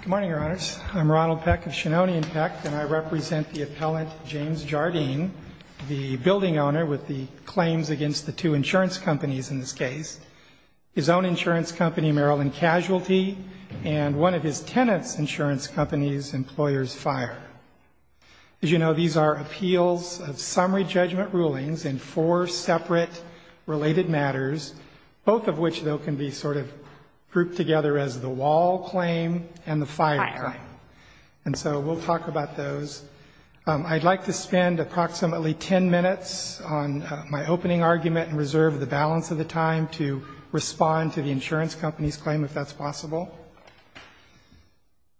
Good morning, Your Honors. I'm Ronald Peck of Shannonian Peck, and I represent the appellant James Jardine, the building owner with the claims against the two insurance companies in this case, his own insurance company, Maryland Casualty, and one of his tenants' insurance companies, Employers Fire. As you know, these are appeals of summary judgment rulings in four separate related matters, both of which, though, can be sort of grouped together as the wall claim and the fire claim. And so we'll talk about those. I'd like to spend approximately ten minutes on my opening argument and reserve the balance of the time to respond to the insurance company's claim, if that's possible.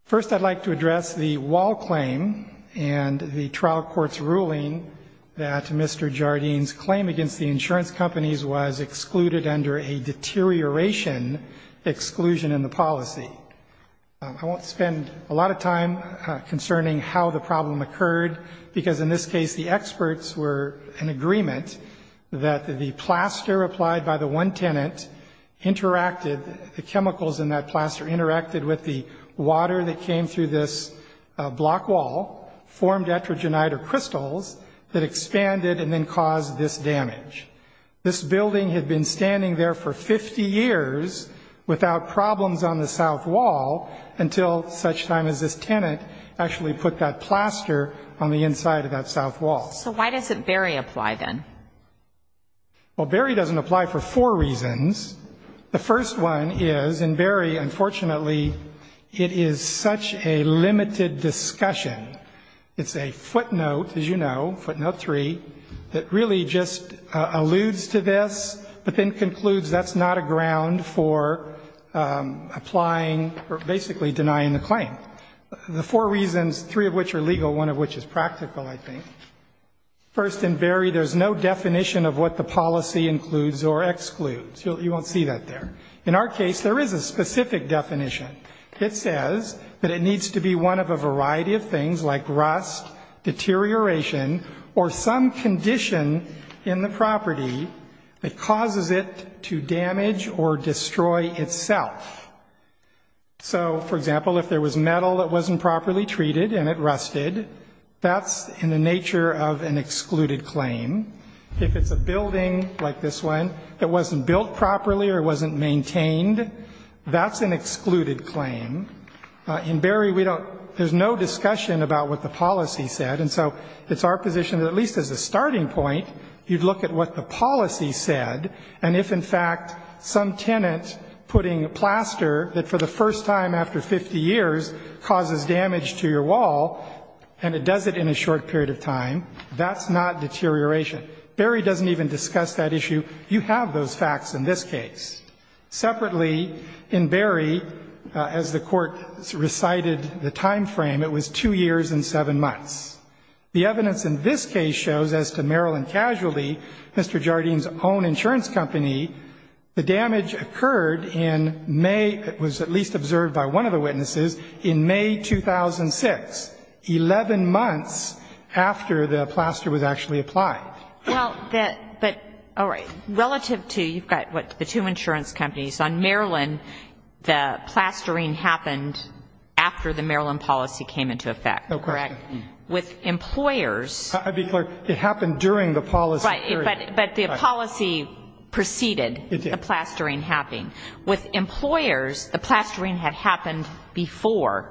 First, I'd like to address the wall claim and the trial court's ruling that Mr. Jardine's claim against the insurance companies was excluded under a deterioration exclusion in the policy. I won't spend a lot of time concerning how the problem occurred, because in this case the experts were in agreement that the plaster applied by the one tenant interacted, the chemicals in that plaster interacted with the water that came through this block wall, formed etrogenide or crystals that expanded and then caused this damage. This building had been standing there for 50 years without problems on the south wall until such time as this tenant actually put that plaster on the inside of that south wall. So why doesn't Berry apply then? Well, Berry doesn't apply for four reasons. The first one is in Berry, unfortunately, it is such a limited discussion. It's a footnote, as you know, footnote three, that really just alludes to this, but then concludes that's not a ground for applying or basically denying the claim. The four reasons, three of which are legal, one of which is practical, I think. First in Berry, there's no definition of what the policy includes or excludes. You won't see that there. In our case, there is a specific definition. It says that it needs to be one of a variety of things like rust, deterioration or some condition in the property that causes it to damage or destroy itself. So, for example, if there was metal that wasn't properly treated and it rusted, that's in the nature of an excluded claim. If it's a building like this one that wasn't built properly or wasn't maintained, that's an excluded claim. In Berry, there's no discussion about what the policy said. And so it's our position that at least as a starting point, you'd look at what the policy said. And if, in fact, some tenant putting plaster that for the first time after 50 years causes damage to your wall and it does it in a short period of time, that's not deterioration. Berry doesn't even discuss that issue. You have those facts in this case. Separately, in Berry, as the Court recited the time frame, it was two years and seven months. The evidence in this case shows as to Maryland Casualty, Mr. Jardine's own insurance company, the damage occurred in May, it was at least observed by one of the witnesses, in May 2006, 11 months after the plaster was actually applied. Well, that, but, all right. Relative to, you've got what, the two insurance companies on Maryland, the plastering happened after the Maryland policy came into effect, correct? No question. With employers. I'd be clear, it happened during the policy period. Right, but the policy preceded the plastering happening. It did. With employers, the plastering had happened before.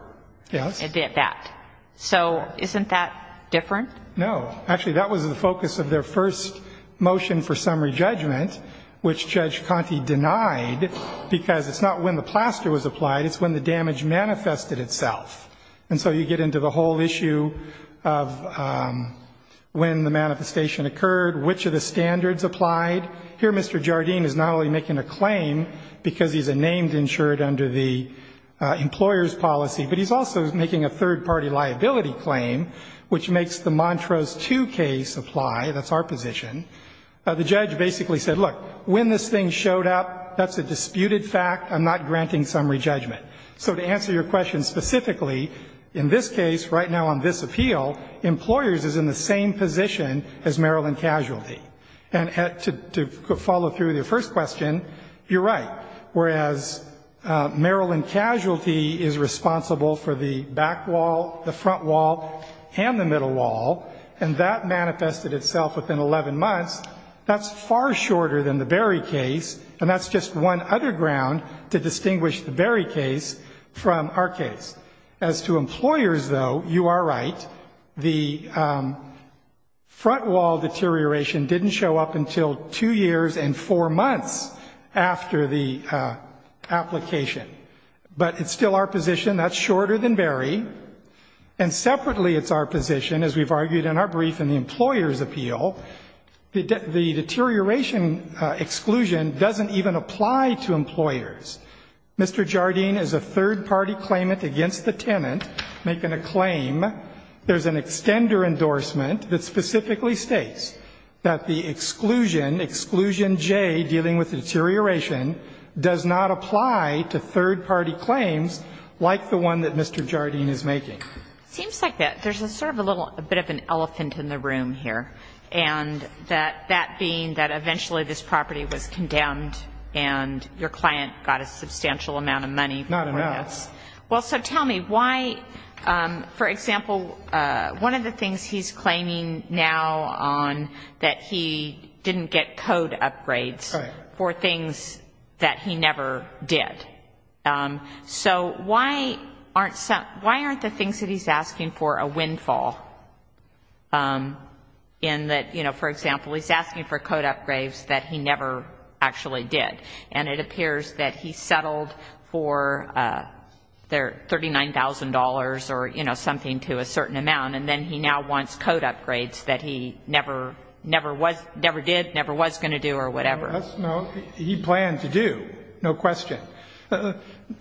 Yes. It did that. So isn't that different? No. Actually, that was the focus of their first motion for summary judgment, which Judge Conte denied, because it's not when the plaster was applied, it's when the damage manifested itself. And so you get into the whole issue of when the manifestation occurred, which of the standards applied. Here, Mr. Jardine is not only making a claim, because he's a named insured under the employer's policy, but he's also making a third-party liability claim, which makes the Montrose 2 case apply. That's our position. The judge basically said, look, when this thing showed up, that's a disputed fact. I'm not granting summary judgment. So to answer your question specifically, in this case, right now on this appeal, employers is in the same position as Maryland Casualty. And to follow through with your first question, you're right. Whereas Maryland Casualty is responsible for the back wall, the front wall, and the middle wall, and that manifested itself within 11 months, that's far shorter than the Berry case, and that's just one other ground to distinguish the Berry case from our case. As to employers, though, you are right. The front wall deterioration didn't show up until two years and four months after the application. But it's still our position, that's shorter than Berry. And separately, it's our position, as we've argued in our brief in the employer's appeal, the deterioration exclusion doesn't even apply to employers. Mr. Jardine is a third-party claimant against the tenant making a claim. There's an extender endorsement that specifically states that the exclusion, exclusion J, dealing with the deterioration, does not apply to third-party claims like the one that Mr. Jardine is making. It seems like there's sort of a little bit of an elephant in the room here, and that being that eventually this property was condemned and your client got a substantial amount of money for this. Not enough. Well, so tell me why, for example, one of the things he's claiming now on, that he didn't get code upgrades for things that he never did. So why aren't some, why aren't the things that he's asking for a windfall in that, you know, for example, he's asking for code upgrades that he never actually did, and it appears that he settled for $39,000 or, you know, something to a certain amount, and then he now wants code upgrades that he never, never was, never did, never was going to do or whatever. No, he planned to do, no question.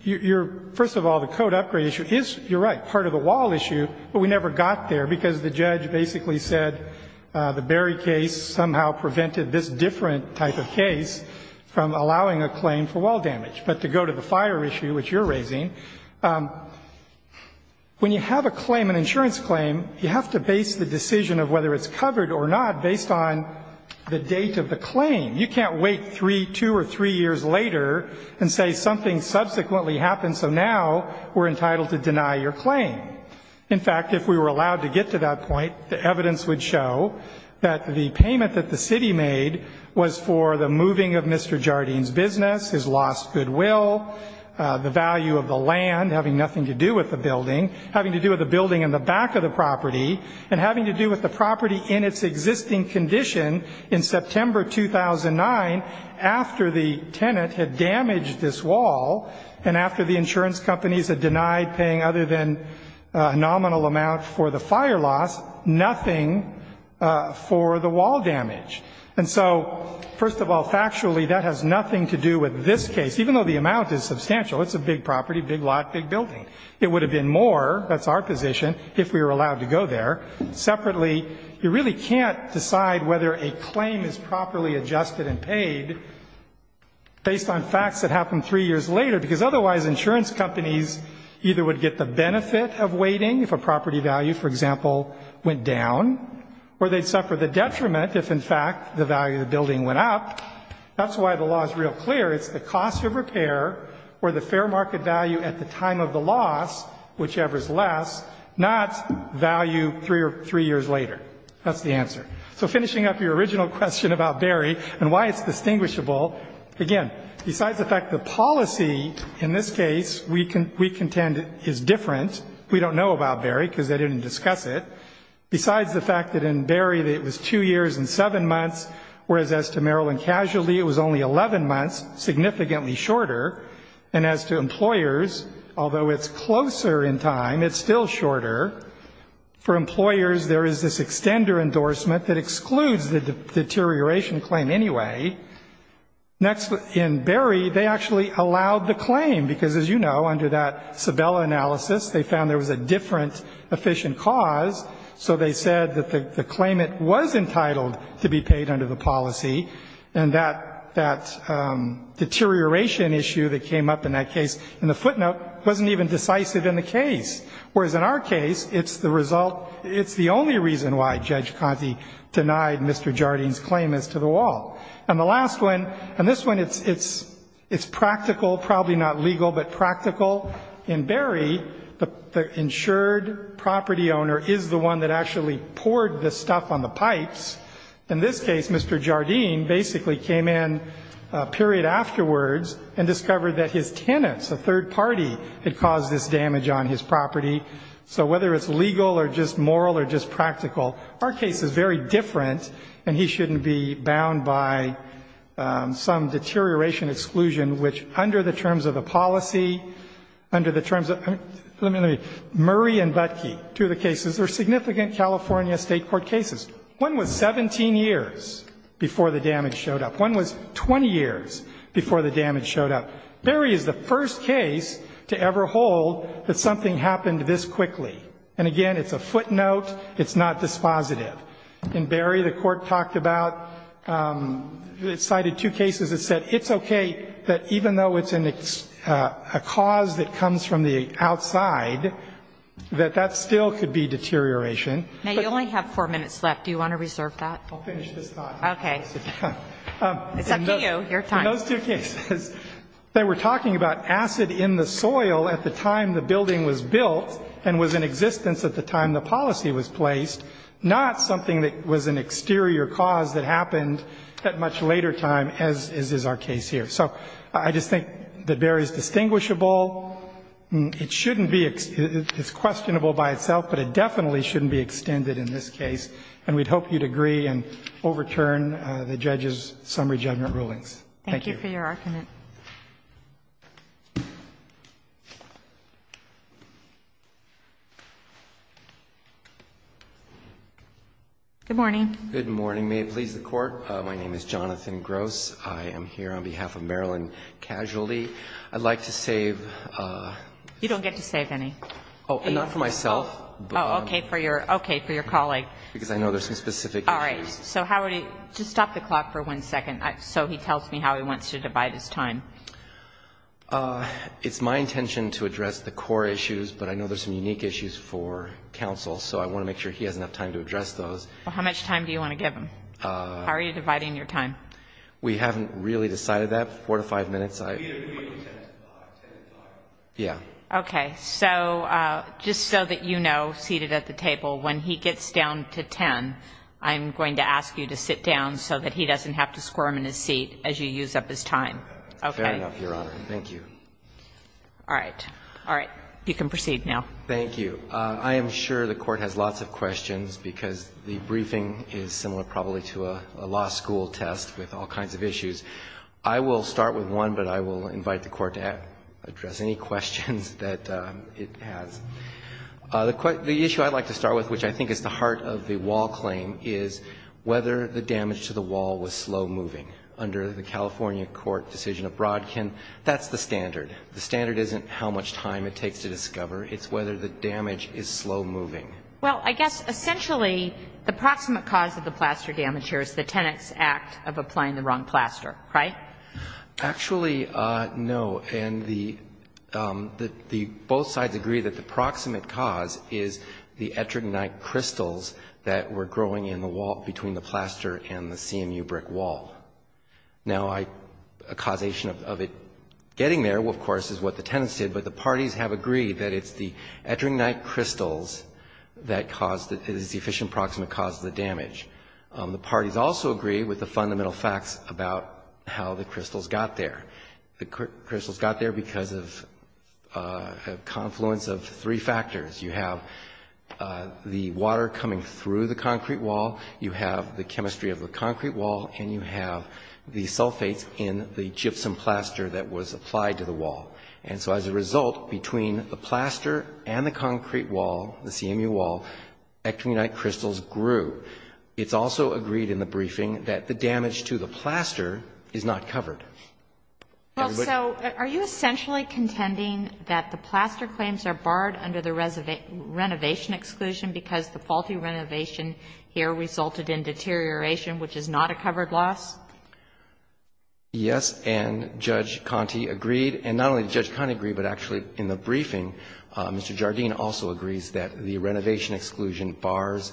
You're, first of all, the code upgrade issue is, you're right, part of the wall issue, but we never got there because the judge basically said the Berry case somehow prevented this different type of case from allowing a claim for wall damage. But to go to the fire issue, which you're raising, when you have a claim, an insurance claim, you have to base the decision of whether it's covered or not based on the date of the claim. You can't wait three, two or three years later and say something subsequently happened, so now we're entitled to deny your claim. In fact, if we were allowed to get to that point, the evidence would show that the payment that the city made was for the moving of Mr. Jardine's business, his lost goodwill, the value of the land having nothing to do with the building, having to do with the building in the back of the property, and having to do with the property in its existing condition in September 2009 after the tenant had damaged this wall, and after the insurance companies had denied paying other than a nominal amount for the fire loss, nothing for the wall damage. And so, first of all, factually, that has nothing to do with this case, even though the amount is substantial. It's a big property, big lot, big building. It would have been more, that's our position, if we were allowed to go there. Separately, you really can't decide whether a claim is properly adjusted and paid based on facts that happened three years later, because otherwise insurance companies either would get the benefit of waiting if a property value, for example, went down, or they'd suffer the detriment if, in fact, the value of the building went up. That's why the law is real clear. It's the cost of repair or the fair market value at the time of the loss, whichever is less, not value three years later. That's the answer. So finishing up your original question about Barry and why it's distinguishable, again, besides the fact the policy in this case we contend is different, we don't know about Barry because they didn't discuss it, besides the fact that in Barry it was two years and seven months, whereas as to Maryland Casualty it was only 11 months, significantly shorter, and as to employers, although it's closer in time, it's still shorter. For employers, there is this extender endorsement that excludes the deterioration claim anyway. Next, in Barry, they actually allowed the claim because, as you know, under that Sabella analysis, they found there was a different efficient cause, so they said that the claimant was entitled to be paid under the policy, and that deterioration issue that came up in that case, in the footnote, wasn't even decisive in the case, whereas in our case, it's the result, it's the only reason why Judge Conte denied Mr. Jardine's claim as to the wall. And the last one, and this one, it's practical, probably not legal, but practical, in Barry, the insured property owner is the one that actually poured the stuff on the pipes. In this case, Mr. Jardine basically came in a period afterwards and discovered that his tenants, a third party, had caused this damage on his property. So whether it's legal or just moral or just practical, our case is very different, and he shouldn't be bound by some deterioration exclusion, which under the terms of the policy, under the terms of, let me, Murray and Butkey, two of the cases, are significant California State Court cases. One was 17 years before the damage showed up. One was 20 years before the damage showed up. Barry is the first case to ever hold that something happened this quickly. And again, it's a footnote. It's not dispositive. In Barry, the Court talked about, cited two cases that said it's okay that even though it's a cause that comes from the outside, that that still could be deterioration. Now, you only have four minutes left. Do you want to reserve that? I'll finish this thought. Okay. It's up to you. Your time. In those two cases, they were talking about acid in the soil at the time the building was built and was in existence at the time the policy was placed, not something that was an exterior cause that happened at much later time, as is our case here. So I just think that Barry is distinguishable. It shouldn't be — it's questionable by itself, but it definitely shouldn't be extended in this case. And we'd hope you'd agree and overturn the judges' summary judgment rulings. Thank you. Thank you for your argument. Good morning. Good morning. May it please the Court. My name is Jonathan Gross. I am here on behalf of Maryland Casualty. I'd like to save — You don't get to save any. Oh, not for myself. Oh, okay, for your colleague. Because I know there's some specific issues. Well, how much time do you want to give him? How are you dividing your time? We haven't really decided that. Four to five minutes. We agree on 10 to 5. Yeah. Okay. So just so that you know, seated at the table, when he gets down to 10, I'm going to ask you to sit down so that he doesn't have to squirm in his seat as you use up his time. Okay? Fair enough, Your Honor. Thank you. All right. All right. You can proceed now. Thank you. I am sure the Court has lots of questions because the briefing is similar probably to a law school test with all kinds of issues. I will start with one, but I will invite the Court to address any questions that it has. The issue I'd like to start with, which I think is the heart of the Wall claim, is whether the damage to the Wall was slow-moving. Under the California court decision of Brodkin, that's the standard. The standard isn't how much time it takes to discover. It's whether the damage is slow-moving. Well, I guess essentially the proximate cause of the plaster damage here is the Tenet's Act of applying the wrong plaster, right? Actually, no. And the both sides agree that the proximate cause is the ettringite crystals that were growing in the wall between the plaster and the CMU brick wall. Now, a causation of it getting there, of course, is what the Tenet's did, but the parties have agreed that it's the ettringite crystals that is the efficient proximate cause of the damage. The parties also agree with the fundamental facts about how the crystals got there. The crystals got there because of a confluence of three factors. You have the water coming through the concrete wall, you have the chemistry of the concrete wall, and you have the sulfates in the gypsum plaster that was applied to the wall. And so as a result, between the plaster and the concrete wall, the CMU wall, ettringite crystals grew. It's also agreed in the briefing that the damage to the plaster is not covered. Well, so are you essentially contending that the plaster claims are barred under the renovation exclusion because the faulty renovation here resulted in deterioration, which is not a covered loss? Yes, and Judge Conte agreed. And not only did Judge Conte agree, but actually in the briefing, Mr. Jardine also agrees that the renovation exclusion bars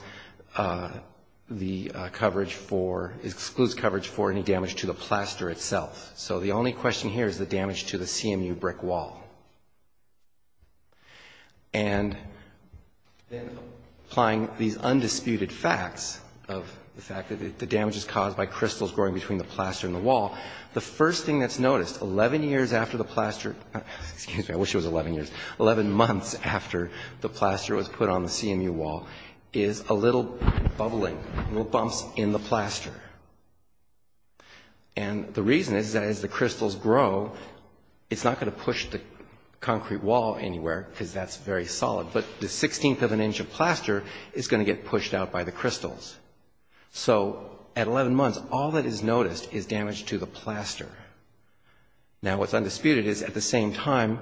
the coverage for, excludes coverage for any damage to the plaster itself. So the only question here is the damage to the CMU brick wall. And then applying these undisputed facts of the fact that the damage is caused by crystals growing between the plaster and the wall, the first thing that's noticed 11 years after the plaster, excuse me, I wish it was 11 years, 11 months after the plaster was put on the CMU wall is a little bubbling, little bumps in the plaster. And the reason is that as the crystals grow, it's not going to push the concrete wall anywhere because that's very solid, but the 16th of an inch of plaster is going to get pushed out by the crystals. So at 11 months, all that is noticed is damage to the plaster. Now, what's undisputed is at the same time,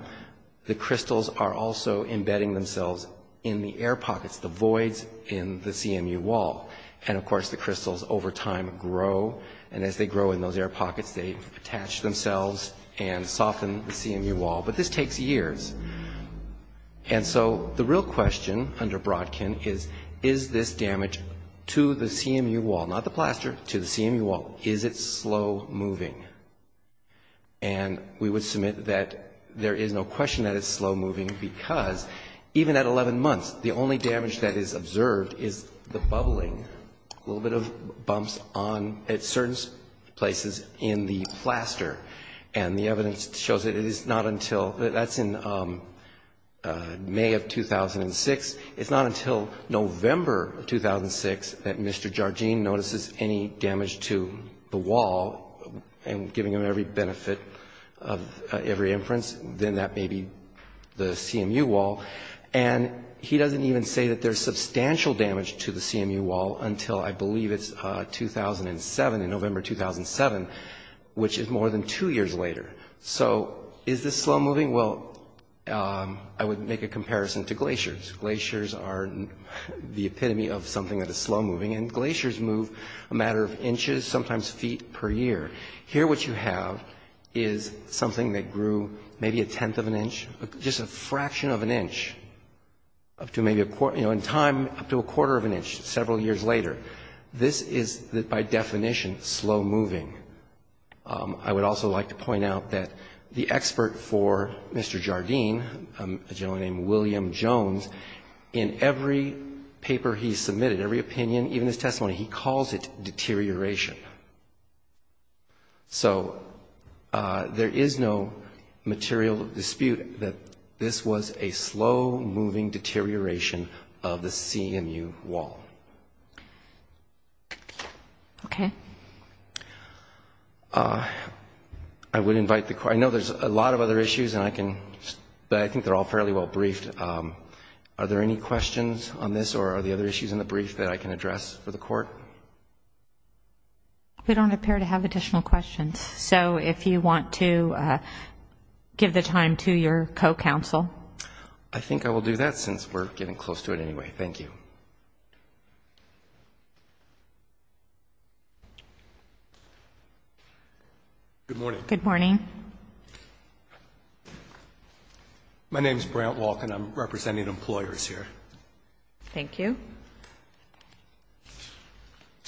the crystals are also embedding themselves in the air pockets, the voids in the CMU wall. And of course the crystals over time are going to grow, and as they grow in those air pockets, they attach themselves and soften the CMU wall. But this takes years. And so the real question under Brodkin is, is this damage to the CMU wall, not the plaster, to the CMU wall, is it slow moving? And we would submit that there is no question that it's slow moving because even at 11 months, the only damage that is observed is the bubbling, a little bit of bumps on, at certain places in the plaster. And the evidence shows that it is not until, that's in May of 2006, it's not until November 2006 that Mr. Jarjean notices any damage to the wall and giving him every benefit of every inference, then that may be the CMU wall. And he doesn't even say that there's substantial damage to the CMU wall until I believe it's 2007, in November 2007, which is more than two years later. So is this slow moving? Well, I would make a comparison to glaciers. Glaciers are the epitome of something that is slow moving, and glaciers move a matter of inches, sometimes feet per year. Here what you have is something that grew maybe a tenth of an inch, just a fraction of an inch, up to maybe a quarter, you know, in time, up to a quarter of an inch several years later. This is by definition slow moving. I would also like to point out that the expert for Mr. Jarjean, a gentleman named William Jones, in every paper he submitted, every opinion, even his testimony, he calls it deterioration. So there is no material dispute that this was a slow moving deterioration of the CMU wall. Okay. I know there's a lot of other issues, and I can, but I think they're all fairly well briefed. Are there any questions on this, or are there other issues in the brief that I can address for the Court? We don't appear to have additional questions. So if you want to give the time to your co-counsel. I think I will do that, since we're getting close to it anyway. Thank you. Good morning. It's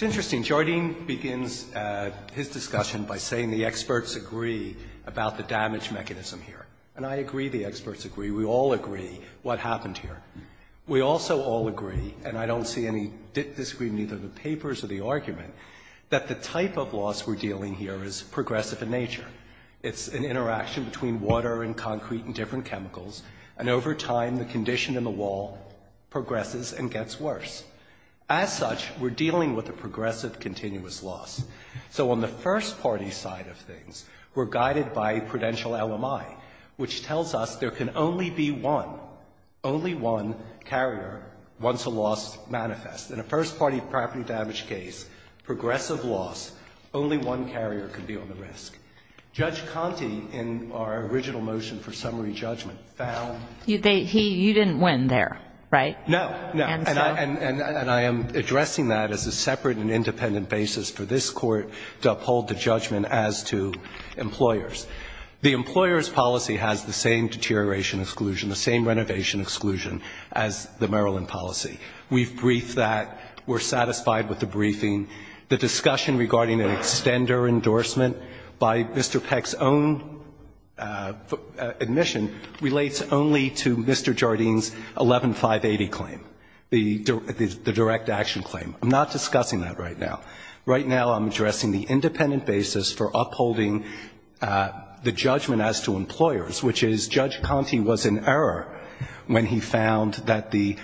interesting. Jarjean begins his discussion by saying the experts agree about the damage mechanism here. And I agree the experts agree. We all agree what happened here. We also all agree, and I don't see any disagreement either in the papers or the argument, that the type of loss we're dealing here is progressive in nature. It's an interaction between water and concrete and different chemicals, and over time the condition in the wall progresses and gets worse. As such, we're dealing with a progressive continuous loss. So on the first-party side of things, we're guided by prudential LMI, which tells us there can only be one, only one carrier once a loss manifests. In a first-party property damage case, progressive loss, only one carrier can be on the risk. Judge Conte in our case said there can only be one, only one carrier once a loss manifests, and that's what we're dealing with here. And I'm not saying there can't be one, only one carrier. No, no. And I am addressing that as a separate and independent basis for this Court to uphold the judgment as to employers. The employers' policy has the same deterioration exclusion, the same renovation exclusion as the Maryland policy. We've briefed that. We're satisfied with the briefing. The discussion regarding an extender endorsement by Mr. Peck's own admission relates only to Mr. Jardine's 11-580 claim, the direct action claim. I'm not discussing that right now. Right now I'm addressing the independent basis for upholding the judgment as to employers, which is Judge Conte was in error when he found that the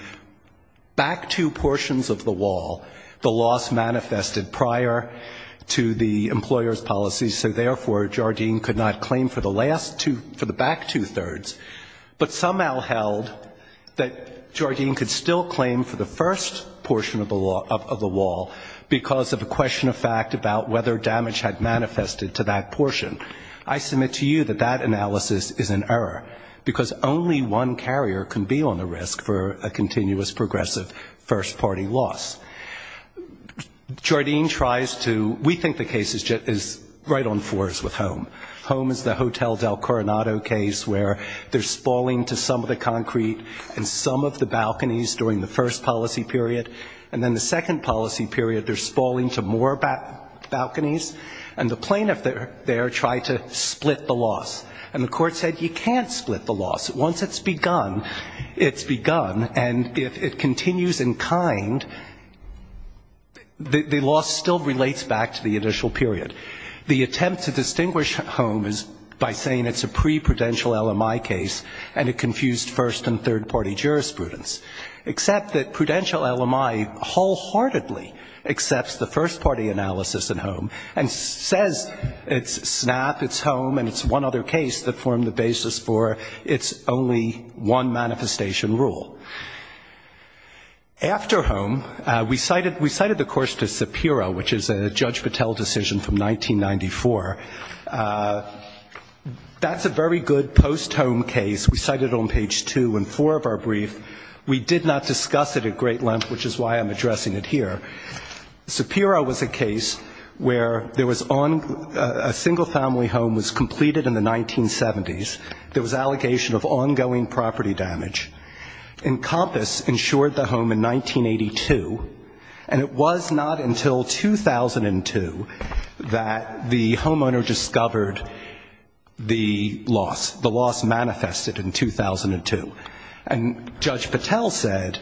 back two portions of the wall, the loss manifested prior to the employers' policy, so therefore Jardine could not claim for the last two, for the back two-thirds. But somehow held that Jardine could still claim for the first portion of the wall because of a question of fact about whether damage had manifested to that portion. I submit to you that that analysis is in error, because only one carrier can be on the risk for a continuous progressive first-party loss. Jardine tries to we think the case is right on fours with HOME. HOME is the Hotel del Coronado case where they're spalling to some of the concrete and some of the balconies during the first policy period, and then the second policy period they're spalling to more balconies, and the plaintiff there tried to split the loss. And the court said you can't split the loss. Once it's begun, it's begun. And if it continues in kind, the loss still relates back to the initial period. The attempt to distinguish HOME is by saying it's a pre-prudential LMI case and it confused first- and third-party jurisprudence, except that prudential LMI wholeheartedly accepts the first-party analysis in HOME and says it's another case that formed the basis for its only one-manifestation rule. After HOME, we cited the course to SAPIRA, which is a Judge Patel decision from 1994. That's a very good post-HOME case. We cite it on page two in four of our brief. We did not discuss it at great length, which is why I'm addressing it here. SAPIRA was a case where there was a single-family HOME was completed in the 1970s. There was an allegation of ongoing property damage. And COMPASS insured the HOME in 1982, and it was not until 2002 that the homeowner discovered the loss, the loss manifested in 2002. And Judge Patel said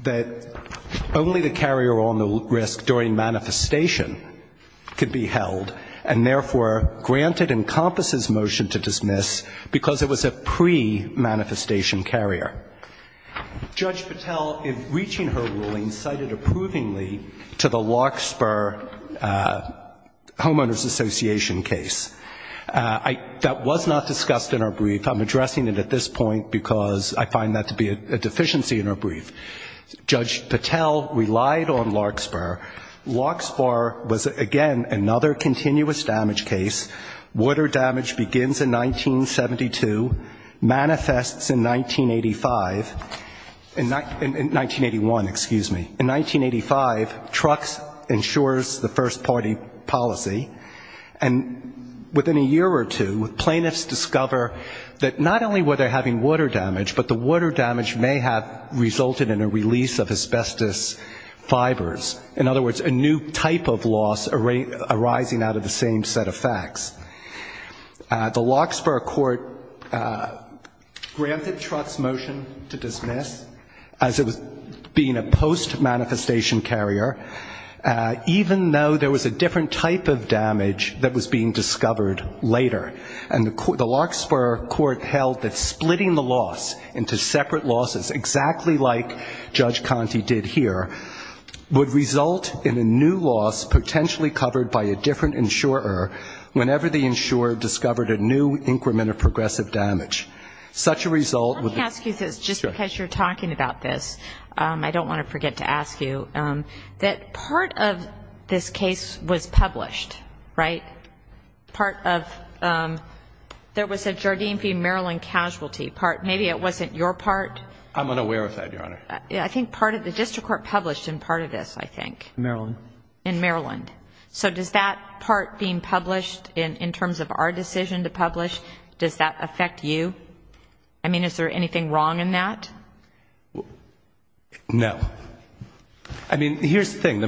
that only the carrier-owned HOME risk during manifestation could be held, and therefore granted in COMPASS's motion to dismiss because it was a pre-manifestation carrier. Judge Patel, in reaching her ruling, cited approvingly to the Larkspur Homeowners Association case. That was not discussed in our brief. I'm addressing it at this point because I find that to be a deficiency in our brief. Judge Patel relied on Larkspur. Larkspur was, again, another continuous damage case. Water damage begins in 1972, manifests in 1985, in 1981, excuse me. In 1985, TRUX insures the first-party policy, and within a year or two, plaintiffs discover that not only were they having water damage, but the water damage may have resulted in a release of asbestos fibers. In other words, a new type of loss arising out of the same set of facts. The Larkspur court granted Trutz's motion to dismiss as it was being a post-manifestation carrier, even though there was a different type of damage that was being discovered later. And the Larkspur court held that splitting the loss into separate losses, exactly like Judge Conte did here, would result in a new loss potentially covered by a different insurer, whenever the insurer discovered a new increment of progressive damage. Such a result would be... I want to ask you this, just because you're talking about this, I don't want to forget to ask you, that part of this case was published, right? Part of... There was a Jardim v. Maryland casualty part. Maybe it wasn't your part? I'm unaware of that, Your Honor. I think part of the district court published in part of this, I think. In Maryland. In Maryland. So does that part being published, in terms of our decision to publish, does that affect you? I mean, is there anything wrong in that? No. I mean, here's the thing.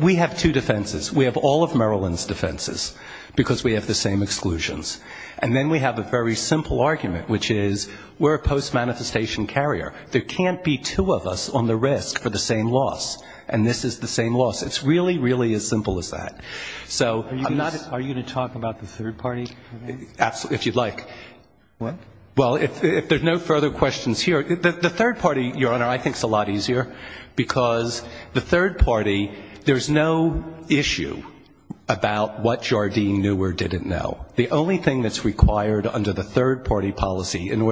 We have two defenses. We have all of Maryland's defenses, because we have the same exclusions. And then we have a very simple argument, which is we're a post-manifestation carrier. There can't be two of us on the risk for the same loss. And this is the same loss. It's really, really as simple as that. Are you going to talk about the third party? If you'd like. Well, if there's no further questions here, the third party, Your Honor, I think is a lot easier. Because the third party, there's no issue about what Jardim knew or didn't know. The only thing that's required under the third party is that Jardim knew or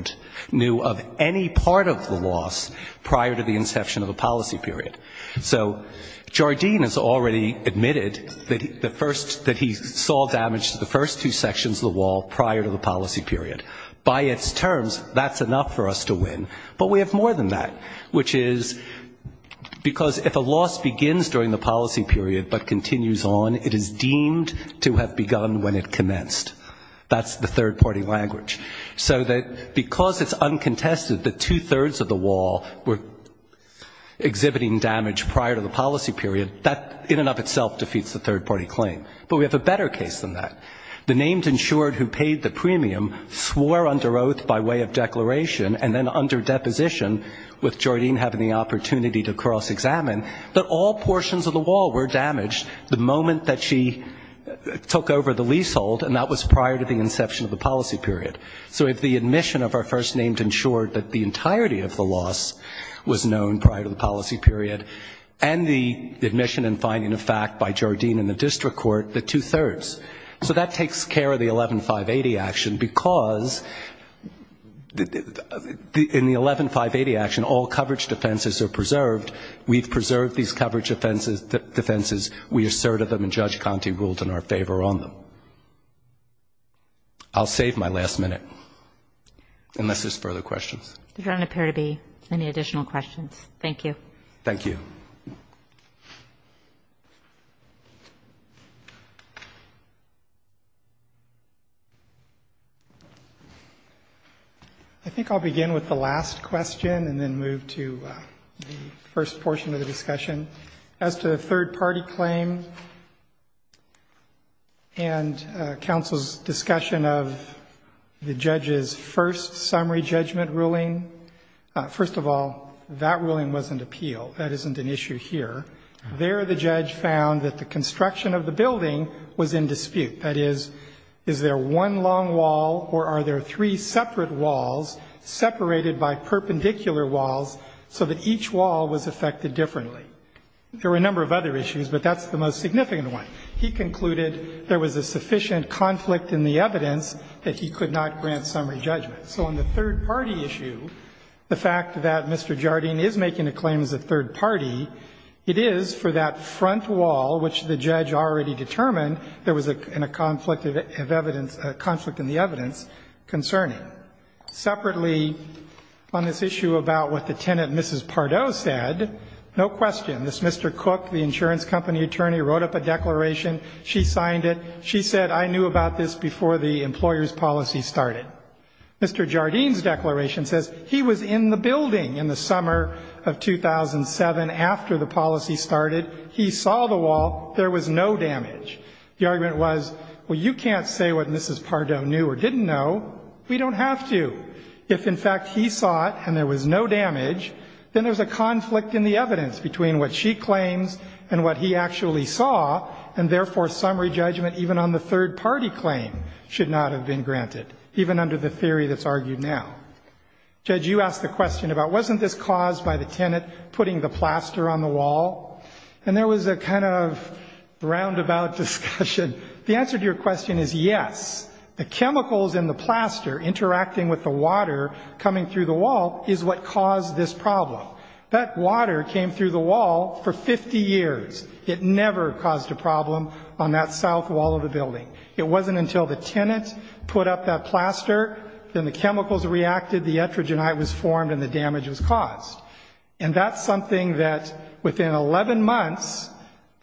didn't know of any part of the loss prior to the inception of the policy period. So Jardim has already admitted that he saw damage to the first two sections of the wall prior to the policy period. By its terms, that's enough for us to win. But we have more than that. Which is because if a loss begins during the policy period but continues on, it is deemed to have begun when it commenced. That's the third party language. So that because of the loss, it's uncontested that two-thirds of the wall were exhibiting damage prior to the policy period, that in and of itself defeats the third party claim. But we have a better case than that. The named insured who paid the premium swore under oath by way of declaration and then under deposition, with Jardim having the opportunity to cross-examine, that all portions of the wall were damaged the moment that she took over the leasehold, and that was prior to the inception of the policy period. So if the admission of our first named insured that the entirety of the loss was known prior to the policy period, and the admission and finding of fact by Jardim in the district court, the two-thirds. So that takes care of the 11-580 action, because in the 11-580 action, all coverage defenses are preserved. We've preserved these coverage defenses. We asserted them and Judge Conte ruled in our favor on them. I'll stop there. I'm going to save my last minute, unless there's further questions. Kagan. There don't appear to be any additional questions. Thank you. Thank you. I think I'll begin with the last question and then move to the first portion of the discussion. As to the third party claim and counsel's discussion of the judge's first summary judgment ruling, first of all, that ruling was an appeal. That isn't an issue here. There the judge found that the construction of the building was in dispute. That is, is there one long wall or are there three separate walls separated by perpendicular walls so that each wall was affected differently? There were a number of other issues, but that's the most significant one. He concluded there was a sufficient conflict in the evidence that he could not grant summary judgment. So on the third party issue, the fact that Mr. Jardim is making a claim as a third party, it is for that front wall which the judge already determined there was a conflict of evidence, a conflict in the evidence concerning. Separately, on this one, the insurance company attorney wrote up a declaration. She signed it. She said, I knew about this before the employer's policy started. Mr. Jardim's declaration says he was in the building in the summer of 2007 after the policy started. He saw the wall. There was no damage. The argument was, well, you can't say what Mrs. Pardo knew or didn't know. We don't have to. If, in fact, he saw it and there was no damage, then there's a conflict in the evidence between what she claims and what he actually saw, and therefore summary judgment even on the third party claim should not have been granted, even under the theory that's argued now. Judge, you asked the question about wasn't this caused by the tenant putting the plaster on the wall? And there was a kind of roundabout discussion. The answer to your question is yes. The chemicals in the plaster interacting with the water coming through the wall is what caused this problem. That water came through the wall for 50 years. It never caused a problem on that south wall of the building. It wasn't until the tenant put up that plaster, then the chemicals reacted, the etrogenite was formed, and the damage was caused. And that's something that within 11 months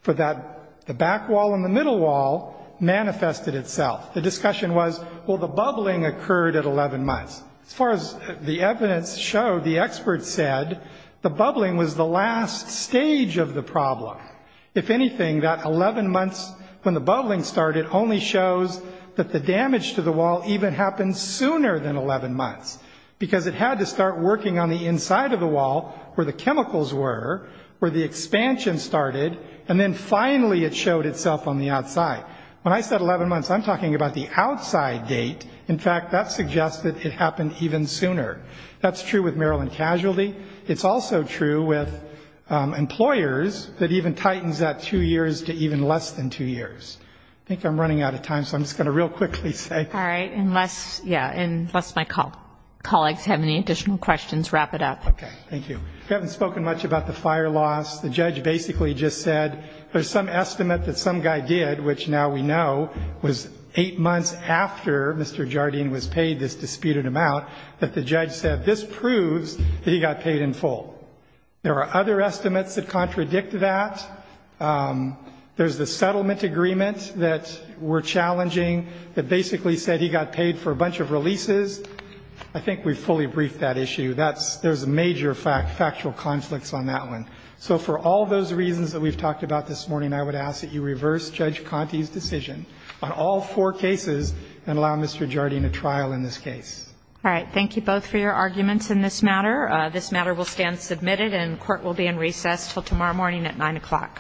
for that, the back wall and the middle wall manifested itself. The bubbling occurred at 11 months. As far as the evidence showed, the experts said the bubbling was the last stage of the problem. If anything, that 11 months when the bubbling started only shows that the damage to the wall even happened sooner than 11 months, because it had to start working on the inside of the wall where the chemicals were, where the expansion started, and then finally it started working on the outside of the wall. So when we're talking about the outside date, in fact, that suggests that it happened even sooner. That's true with Maryland casualty. It's also true with employers that even tightens that two years to even less than two years. I think I'm running out of time, so I'm just going to real quickly say. All right. Unless, yeah, unless my colleagues have any additional questions, wrap it up. Okay. Thank you. We haven't spoken much about the fire loss. The judge basically just said there's some estimate that some guy did, which now we know was eight months after Mr. Jardine was paid this disputed amount, that the judge said this proves that he got paid in full. There are other estimates that contradict that. There's the settlement agreement that we're challenging that basically said he got paid for a bunch of releases. I think we've fully briefed that issue. There's major factual conflicts on that one. So for all those reasons that we've talked about this morning, I would ask that you reverse Judge Conte's decision on all four cases and allow Mr. Jardine a trial in this case. All right. Thank you both for your arguments in this matter. This matter will stand submitted and court will be in recess until tomorrow morning at 9 o'clock.